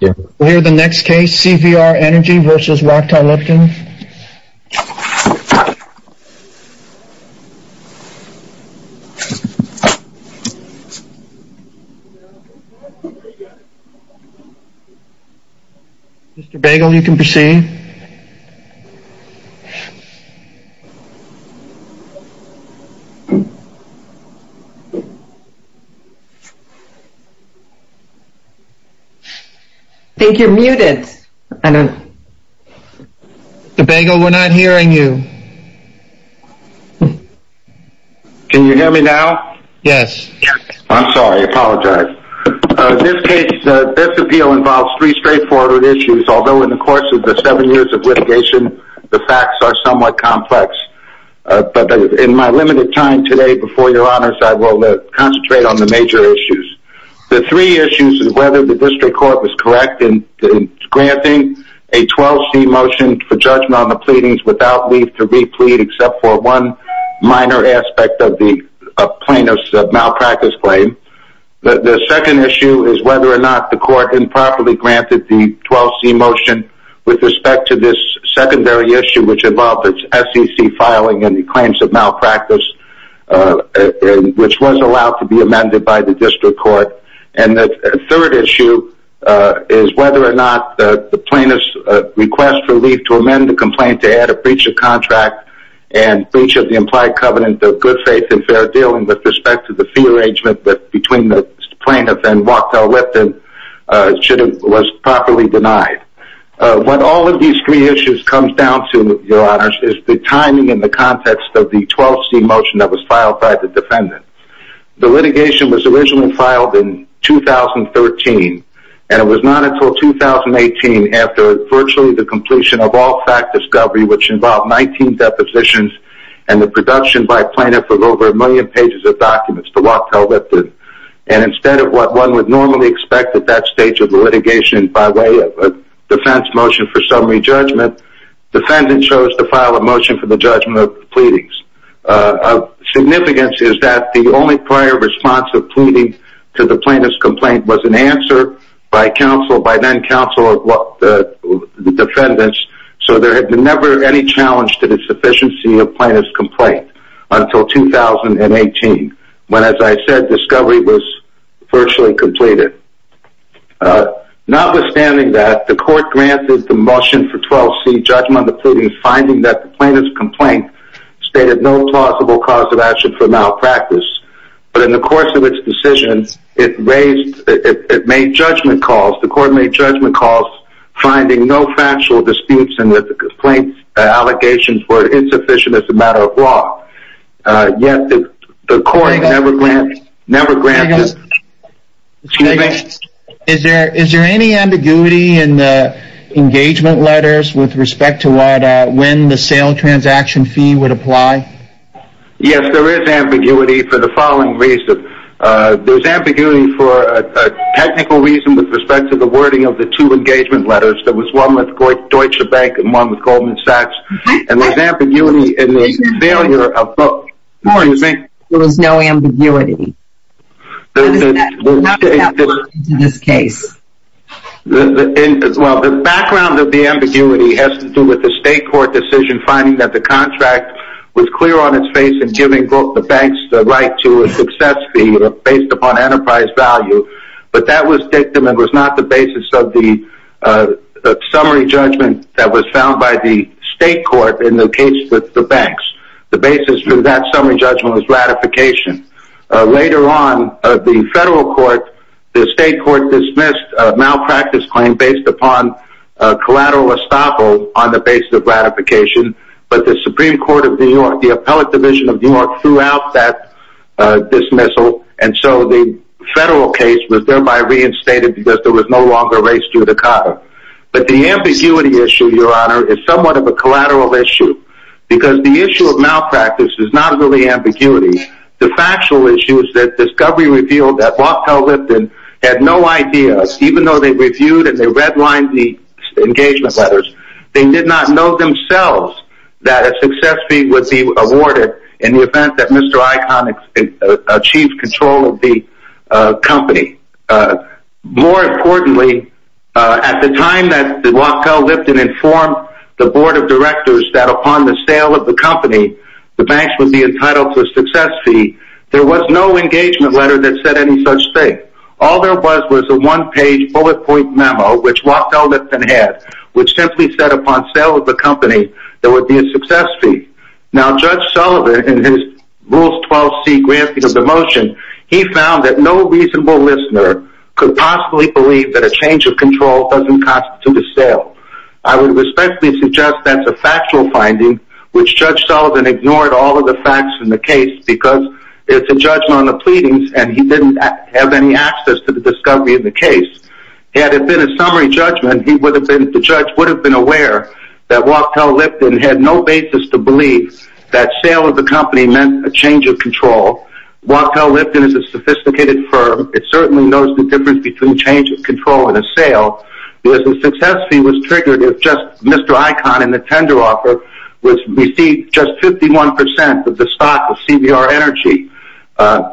We'll hear the next case, CVR Energy versus Wachter Lipton. Mr. Bagel, you can proceed. I think you're muted. Mr. Bagel, we're not hearing you. Can you hear me now? Yes. I'm sorry, I apologize. This case, this appeal involves three straightforward issues. Although in the course of the seven years of litigation, the facts are somewhat complex. But in my limited time today before your honors, I will concentrate on the major issues. The three issues is whether the district court was correct in granting a 12C motion for judgment on the pleadings without leave to replete except for one minor aspect of the plaintiff's malpractice claim. The second issue is whether or not the court improperly granted the 12C motion with respect to this secondary issue, which involved the SEC filing and the claims of malpractice, which was allowed to be amended by the district court. And the third issue is whether or not the plaintiff's request for leave to amend the complaint to add a breach of contract and breach of the implied covenant of good faith and fair dealing with respect to the fee arrangement between the plaintiff and Wachter Lipton was properly denied. What all of these three issues come down to, your honors, is the timing and the context of the 12C motion that was filed by the defendant. The litigation was originally filed in 2013, and it was not until 2018 after virtually the completion of all fact discovery, which involved 19 depositions and the production by plaintiff of over a million pages of documents to Wachter Lipton. And instead of what one would normally expect at that stage of the litigation by way of a defense motion for summary judgment, defendant chose to file a motion for the judgment of the pleadings. Significance is that the only prior response of pleading to the plaintiff's complaint was an answer by counsel, by then counsel of the defendants. So there had been never any challenge to the sufficiency of plaintiff's complaint until 2018, when, as I said, discovery was virtually completed. Notwithstanding that, the court granted the motion for 12C judgment of the pleadings, finding that the plaintiff's complaint stated no plausible cause of action for malpractice. But in the course of its decision, it raised, it made judgment calls, the court made judgment calls, finding no factual disputes and that the complaint allegations were insufficient as a matter of law. Yet the court never granted. Excuse me? Is there any ambiguity in the engagement letters with respect to when the sale transaction fee would apply? Yes, there is ambiguity for the following reasons. There's ambiguity for a technical reason with respect to the wording of the two engagement letters. There was one with Deutsche Bank and one with Goldman Sachs. And there's ambiguity in the failure of both. There was no ambiguity in this case. Well, the background of the ambiguity has to do with the state court decision finding that the contract was clear on its face in giving both the banks the right to a success fee based upon enterprise value. But that was not the basis of the summary judgment that was found by the state court in the case with the banks. The basis for that summary judgment was ratification. Later on, the federal court, the state court dismissed a malpractice claim based upon collateral estoppel on the basis of ratification. But the Supreme Court of New York, the appellate division of New York threw out that dismissal. And so the federal case was thereby reinstated because there was no longer race judicata. But the ambiguity issue, Your Honor, is somewhat of a collateral issue. Because the issue of malpractice is not really ambiguity. The factual issue is that discovery revealed that Lockhell Lipton had no idea, even though they reviewed and they redlined the engagement letters, they did not know themselves that a success fee would be awarded in the event that Mr. Icahn achieved control of the company. More importantly, at the time that Lockhell Lipton informed the board of directors that upon the sale of the company, the banks would be entitled to a success fee, there was no engagement letter that said any such thing. All there was was a one-page bullet point memo, which Lockhell Lipton had, which simply said upon sale of the company, there would be a success fee. Now, Judge Sullivan, in his Rules 12C granting of the motion, he found that no reasonable listener could possibly believe that a change of control doesn't constitute a sale. I would respectfully suggest that's a factual finding, which Judge Sullivan ignored all of the facts in the case because it's a judgment on the pleadings and he didn't have any access to the discovery of the case. Had it been a summary judgment, the judge would have been aware that Lockhell Lipton had no basis to believe that sale of the company meant a change of control. Lockhell Lipton is a sophisticated firm. It certainly knows the difference between a change of control and a sale. The success fee was triggered if just Mr. Icahn and the tender offer received just 51% of the stock of CBR Energy.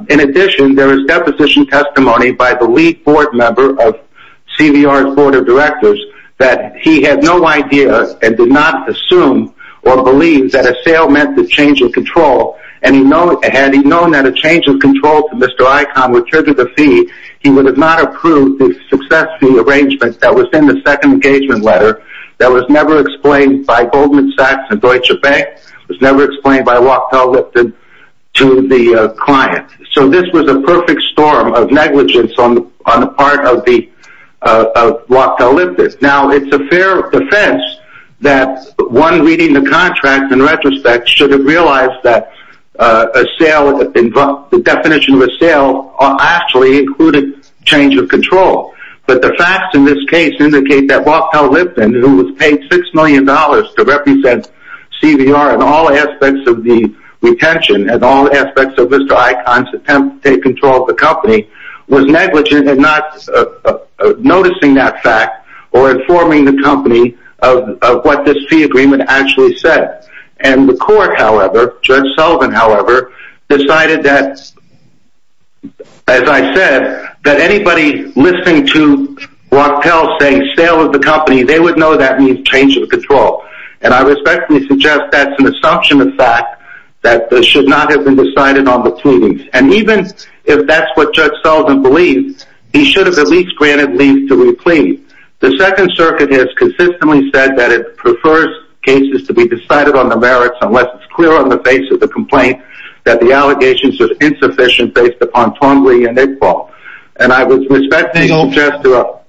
In addition, there is deposition testimony by the lead board member of CBR's board of directors that he had no idea and did not assume or believe that a sale meant a change of control. Had he known that a change of control to Mr. Icahn would trigger the fee, he would have not approved the success fee arrangement that was in the second engagement letter that was never explained by Goldman Sachs and Deutsche Bank. It was never explained by Lockhell Lipton to the client. So this was a perfect storm of negligence on the part of Lockhell Lipton. Now, it's a fair defense that one reading the contract in retrospect should have realized that the definition of a sale actually included change of control. But the facts in this case indicate that Lockhell Lipton, who was paid $6 million to represent CBR in all aspects of the retention and all aspects of Mr. Icahn's attempt to take control of the company, was negligent in not noticing that fact or informing the company of what this fee agreement actually said. And the court, however, Judge Sullivan, however, decided that, as I said, that anybody listening to Lockhell saying sale of the company, they would know that means change of control. And I respectfully suggest that's an assumption of fact that should not have been decided on the proceedings. And even if that's what Judge Sullivan believes, he should have at least granted leave to re-plead. The Second Circuit has consistently said that it prefers cases to be decided on the merits unless it's clear on the face of the complaint that the allegations are insufficient based upon timely and equal. And I would respectfully suggest to...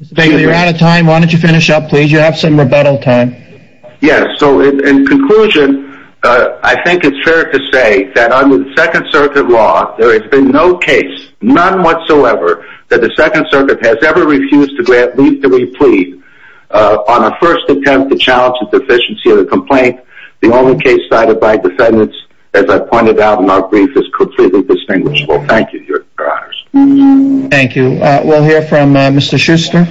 Mr. Bigelow, you're out of time. Why don't you finish up, please? You have some rebuttal time. Yes, so in conclusion, I think it's fair to say that under the Second Circuit law, there has been no case, none whatsoever, that the Second Circuit has ever refused to grant leave to re-plead on a first attempt to challenge the sufficiency of the complaint. The only case cited by defendants, as I pointed out in our brief, is completely distinguishable. Thank you, Your Honors. Thank you. We'll hear from Mr. Schuster.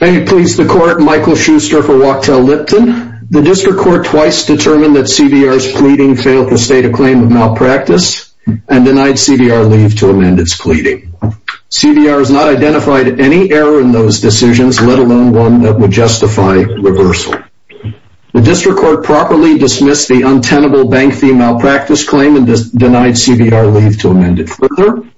May it please the Court, Michael Schuster for Wachtell Lipton. The District Court twice determined that CBR's pleading failed to state a claim of malpractice and denied CBR leave to amend its pleading. CBR has not identified any error in those decisions, let alone one that would justify reversal. The District Court properly dismissed the untenable bank fee malpractice claim and denied CBR leave to amend it further.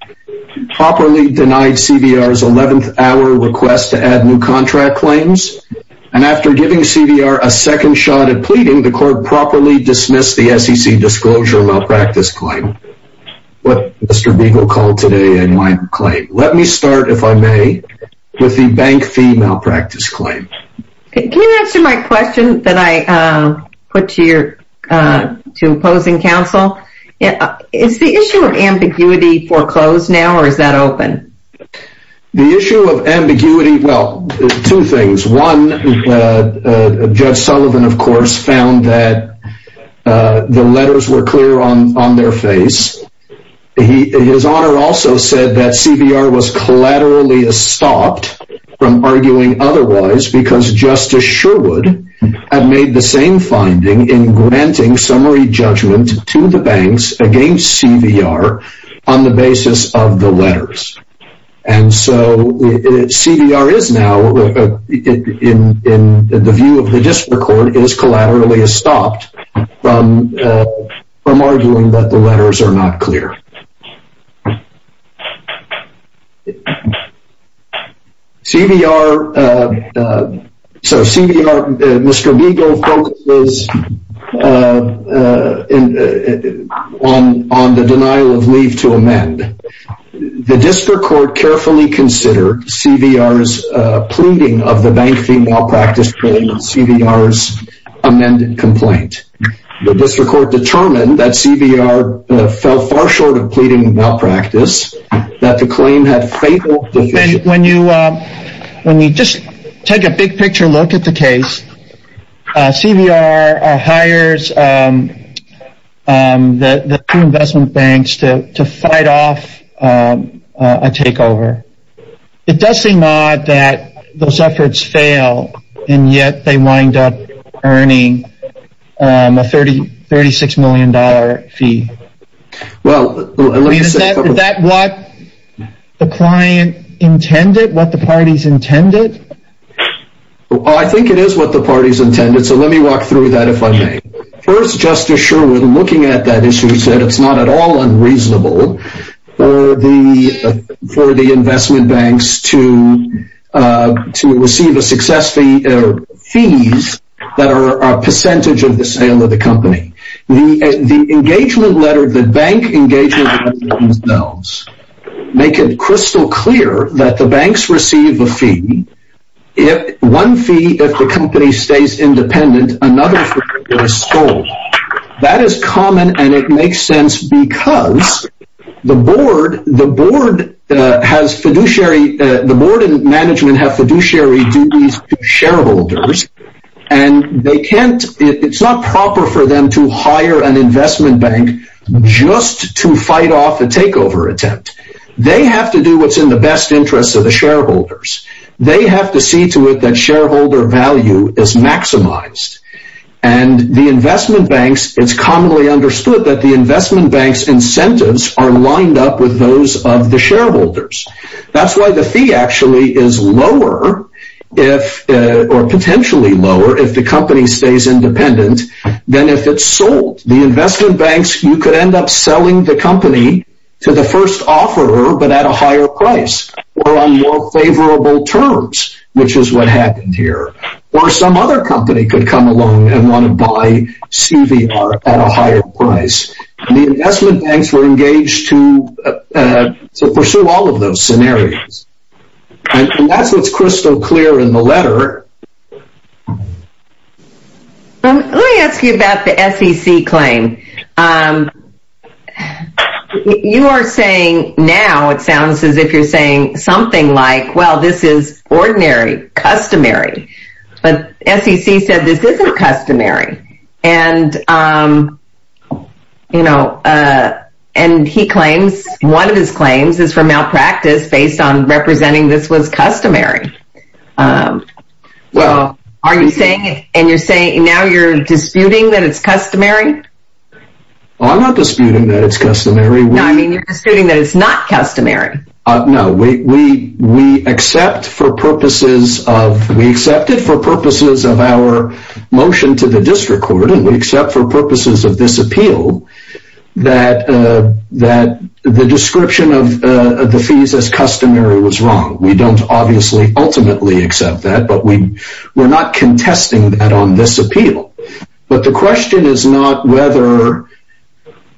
Properly denied CBR's 11th hour request to add new contract claims. And after giving CBR a second shot at pleading, the Court properly dismissed the SEC disclosure malpractice claim. What Mr. Beagle called today a minor claim. Let me start, if I may, with the bank fee malpractice claim. Can you answer my question that I put to opposing counsel? Is the issue of ambiguity foreclosed now, or is that open? The issue of ambiguity, well, two things. One, Judge Sullivan, of course, found that the letters were clear on their face. His Honor also said that CBR was collaterally estopped from arguing otherwise because Justice Sherwood had made the same finding in granting summary judgment to the banks against CBR on the basis of the letters. And so, CBR is now, in the view of the District Court, is collaterally estopped from arguing that the letters are not clear. CBR, Mr. Beagle focuses on the denial of leave to amend. The District Court carefully considered CBR's pleading of the bank fee malpractice claim and CBR's amended complaint. The District Court determined that CBR fell far short of pleading malpractice, that the claim had fatal deficiencies. When you just take a big picture look at the case, CBR hires the two investment banks to fight off a takeover. It does seem odd that those efforts fail, and yet they wind up earning a $36 million fee. Is that what the client intended, what the parties intended? I think it is what the parties intended, so let me walk through that if I may. First, Justice Sherwood, looking at that issue, said it's not at all unreasonable for the investment banks to receive a success fee or fees that are a percentage of the sale of the company. The bank engagement letters themselves make it crystal clear that the banks receive a fee. One fee if the company stays independent, another fee if it is sold. That is common and it makes sense because the board and management have fiduciary duties to shareholders. It is not proper for them to hire an investment bank just to fight off a takeover attempt. They have to do what is in the best interest of the shareholders. They have to see to it that shareholder value is maximized. It is commonly understood that the investment bank's incentives are lined up with those of the shareholders. That is why the fee is potentially lower if the company stays independent than if it is sold. The investment banks could end up selling the company to the first offeror but at a higher price or on more favorable terms, which is what happened here. Or some other company could come along and want to buy CVR at a higher price. The investment banks were engaged to pursue all of those scenarios. That is what is crystal clear in the letter. Let me ask you about the SEC claim. You are saying now, it sounds as if you are saying something like, well this is ordinary, customary. But SEC said this isn't customary. One of his claims is from malpractice based on representing this was customary. Are you saying now you are disputing that it is customary? I am not disputing that it is customary. You are disputing that it is not customary. No, we accepted for purposes of our motion to the district court and we accept for purposes of this appeal that the description of the fees as customary was wrong. We don't obviously ultimately accept that but we are not contesting that on this appeal. But the question is not whether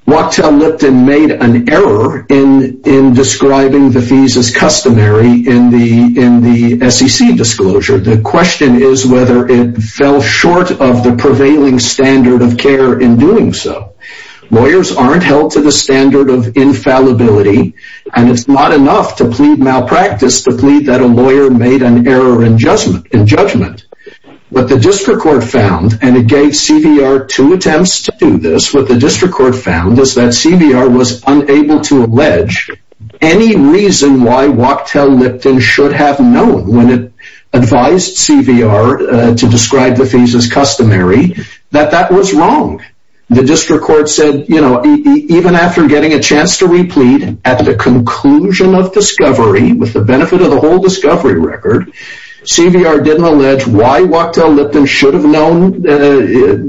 Wachtell Lipton made an error in describing the fees as customary in the SEC disclosure. The question is whether it fell short of the prevailing standard of care in doing so. Lawyers aren't held to the standard of infallibility and it is not enough to plead malpractice to plead that a lawyer made an error in judgment. What the district court found and it gave CVR two attempts to do this. What the district court found is that CVR was unable to allege any reason why Wachtell Lipton should have known when it advised CVR to describe the fees as customary that that was wrong. The district court said even after getting a chance to replead at the conclusion of discovery with the benefit of the whole discovery record, CVR didn't allege why Wachtell Lipton should have known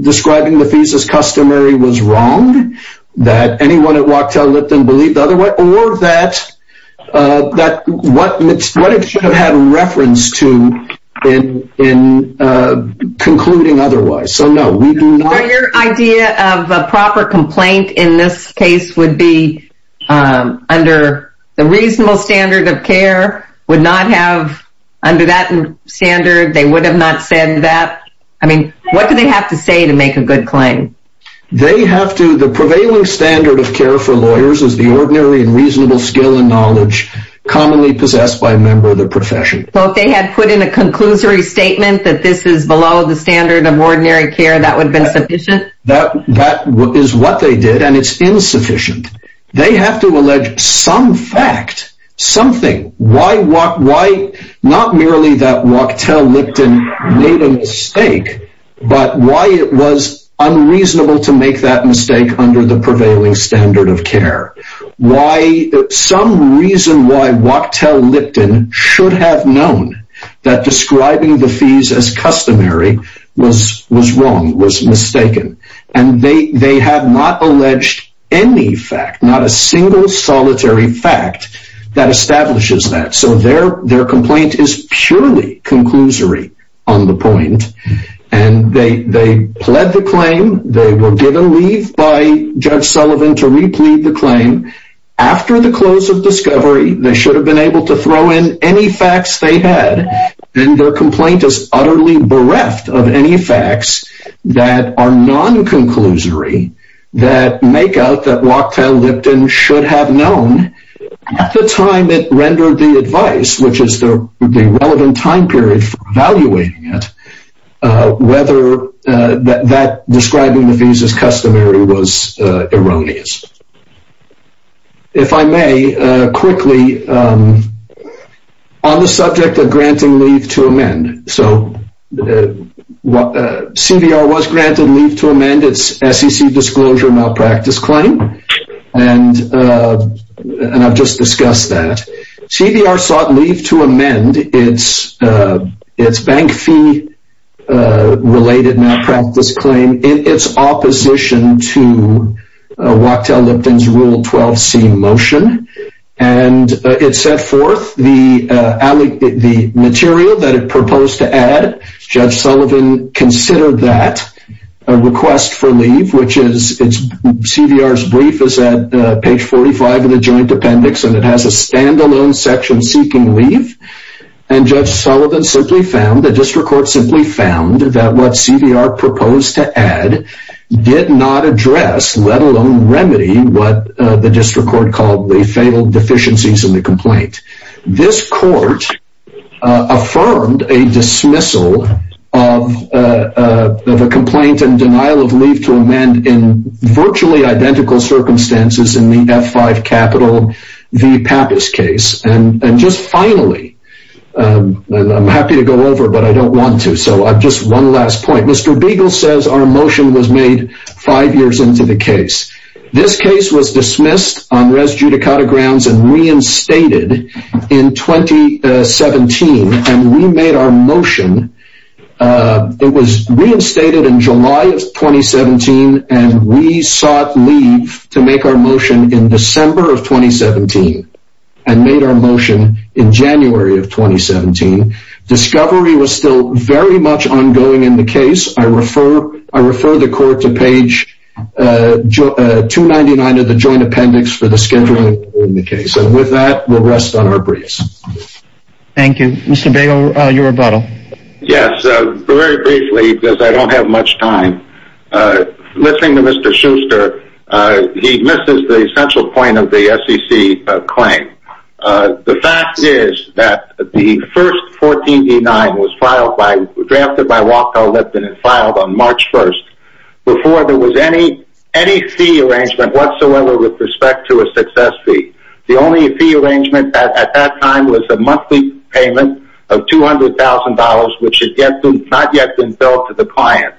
describing the fees as customary was wrong. That anyone at Wachtell Lipton believed the other way or that what it should have had reference to in concluding otherwise. Your idea of a proper complaint in this case would be under the reasonable standard of care would not have under that standard. They would have not said that. I mean, what do they have to say to make a good claim? They have to the prevailing standard of care for lawyers is the ordinary and reasonable skill and knowledge commonly possessed by a member of the profession. Well, if they had put in a conclusory statement that this is below the standard of ordinary care, that would have been sufficient. That is what they did, and it's insufficient. They have to allege some fact, something. Why not merely that Wachtell Lipton made a mistake, but why it was unreasonable to make that mistake under the prevailing standard of care? Some reason why Wachtell Lipton should have known that describing the fees as customary was wrong, was mistaken. And they have not alleged any fact, not a single solitary fact that establishes that. So their complaint is purely conclusory on the point. And they pled the claim. They were given leave by Judge Sullivan to replead the claim. After the close of discovery, they should have been able to throw in any facts they had. And their complaint is utterly bereft of any facts that are non-conclusory that make out that Wachtell Lipton should have known at the time it rendered the advice, which is the relevant time period for evaluating it, whether that describing the fees as customary was erroneous. If I may, quickly, on the subject of granting leave to amend. So, CVR was granted leave to amend its SEC disclosure malpractice claim, and I've just discussed that. CVR sought leave to amend its bank fee related malpractice claim in its opposition to Wachtell Lipton's Rule 12c motion. And it set forth the material that it proposed to add. Judge Sullivan considered that request for leave, which is, CVR's brief is at page 45 of the joint appendix, and it has a stand-alone section seeking leave. And Judge Sullivan simply found, the district court simply found, that what CVR proposed to add did not address, let alone remedy, what the district court called the fatal deficiencies in the complaint. This court affirmed a dismissal of a complaint and denial of leave to amend in virtually identical circumstances in the F5 capital v. Pappas case. And just finally, I'm happy to go over, but I don't want to, so just one last point. Mr. Beagle says our motion was made five years into the case. This case was dismissed on res judicata grounds and reinstated in 2017. And we made our motion, it was reinstated in July of 2017, and we sought leave to make our motion in December of 2017, and made our motion in January of 2017. Discovery was still very much ongoing in the case. I refer the court to page 299 of the joint appendix for the scheduling in the case. And with that, we'll rest on our briefs. Thank you. Mr. Beagle, your rebuttal. Yes, very briefly, because I don't have much time. Listening to Mr. Schuster, he misses the essential point of the SEC claim. The fact is that the first 14D9 was drafted by Walco Lipton and filed on March 1st before there was any fee arrangement whatsoever with respect to a success fee. The only fee arrangement at that time was a monthly payment of $200,000, which had not yet been billed to the client.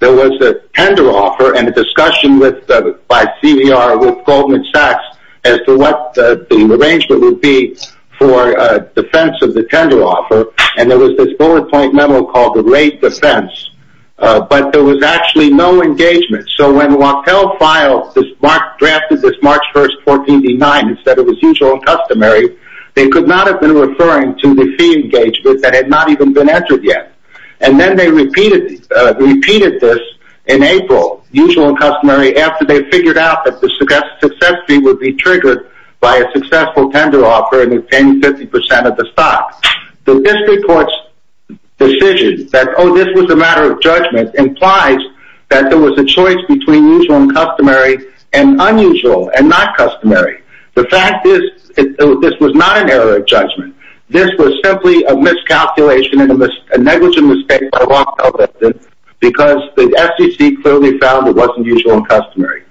There was a tender offer and a discussion by CVR with Goldman Sachs as to what the arrangement would be for defense of the tender offer. And there was this bullet point memo called the rate defense. But there was actually no engagement. So when Wachtell filed this, drafted this March 1st 14D9, and said it was usual and customary, they could not have been referring to the fee engagement that had not even been entered yet. And then they repeated this in April, usual and customary, after they figured out that the success fee would be triggered by a successful tender offer and obtain 50% of the stock. The district court's decision that, oh, this was a matter of judgment, implies that there was a choice between usual and customary and unusual and not customary. The fact is, this was not an error of judgment. This was simply a miscalculation and a negligent mistake by Wachtell because the SEC clearly found it wasn't usual and customary.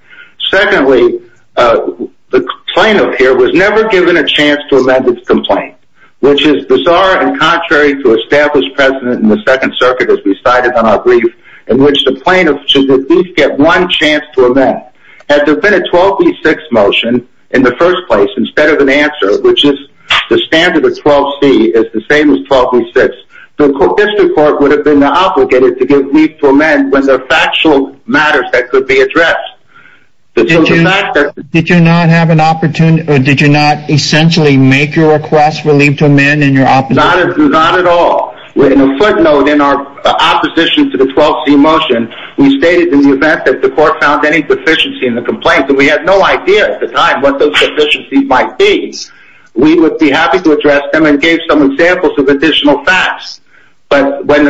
Secondly, the plaintiff here was never given a chance to amend its complaint, which is bizarre and contrary to established precedent in the Second Circuit, as we cited on our brief, in which the plaintiff should at least get one chance to amend. Had there been a 12B6 motion in the first place, instead of an answer, which is the standard of 12C is the same as 12B6, the district court would have been obligated to give leave to amend when there are factual matters that could be addressed. Did you not have an opportunity, or did you not essentially make your request for leave to amend in your opposition? On a footnote, in our opposition to the 12C motion, we stated in the event that the court found any deficiency in the complaint, and we had no idea at the time what those deficiencies might be, we would be happy to address them and give some examples of additional facts. But what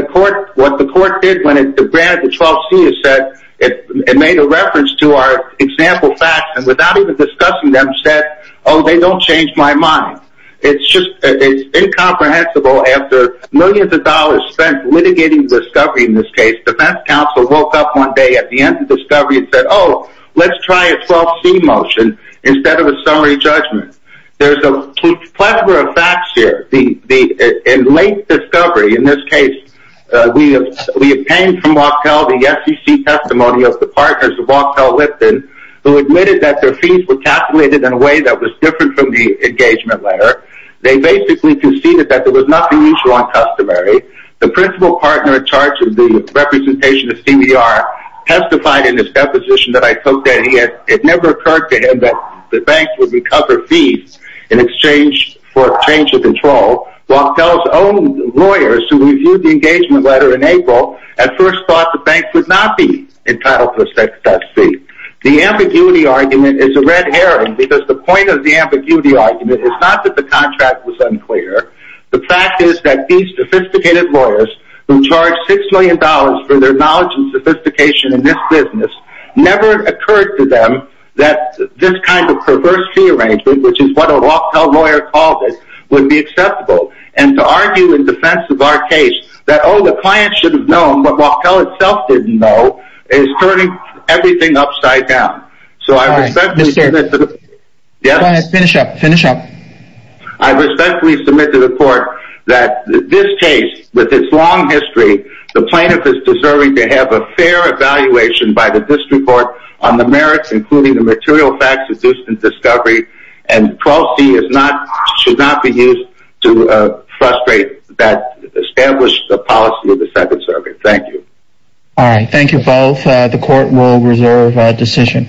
the court did when it granted the 12C is that it made a reference to our example facts and without even discussing them said, oh, they don't change my mind. It's incomprehensible after millions of dollars spent litigating the discovery in this case, defense counsel woke up one day at the end of the discovery and said, oh, let's try a 12C motion instead of a summary judgment. There's a plethora of facts here. In late discovery, in this case, we obtained from Wachtell the SEC testimony of the partners of Wachtell Lipton, who admitted that their fees were calculated in a way that was different from the engagement letter. They basically conceded that there was nothing unusual on customary. The principal partner in charge of the representation of CBR testified in his deposition that it never occurred to him that the banks would recover fees in exchange for change of control. Wachtell's own lawyers who reviewed the engagement letter in April at first thought the banks would not be entitled to a 12C. The ambiguity argument is a red herring because the point of the ambiguity argument is not that the contract was unclear. The fact is that these sophisticated lawyers who charged $6 million for their knowledge and sophistication in this business never occurred to them that this kind of perverse fee arrangement, which is what a Wachtell lawyer called it, would be acceptable. And to argue in defense of our case that, oh, the client should have known, but Wachtell itself didn't know, is turning everything upside down. So I respectfully submit to the court that this case, with its long history, the plaintiff is deserving to have a fair evaluation by the district court on the merits, including the material facts of Houston's discovery, and 12C should not be used to frustrate that established policy of the Second Circuit. Thank you. All right. Thank you both. The court will reserve decision.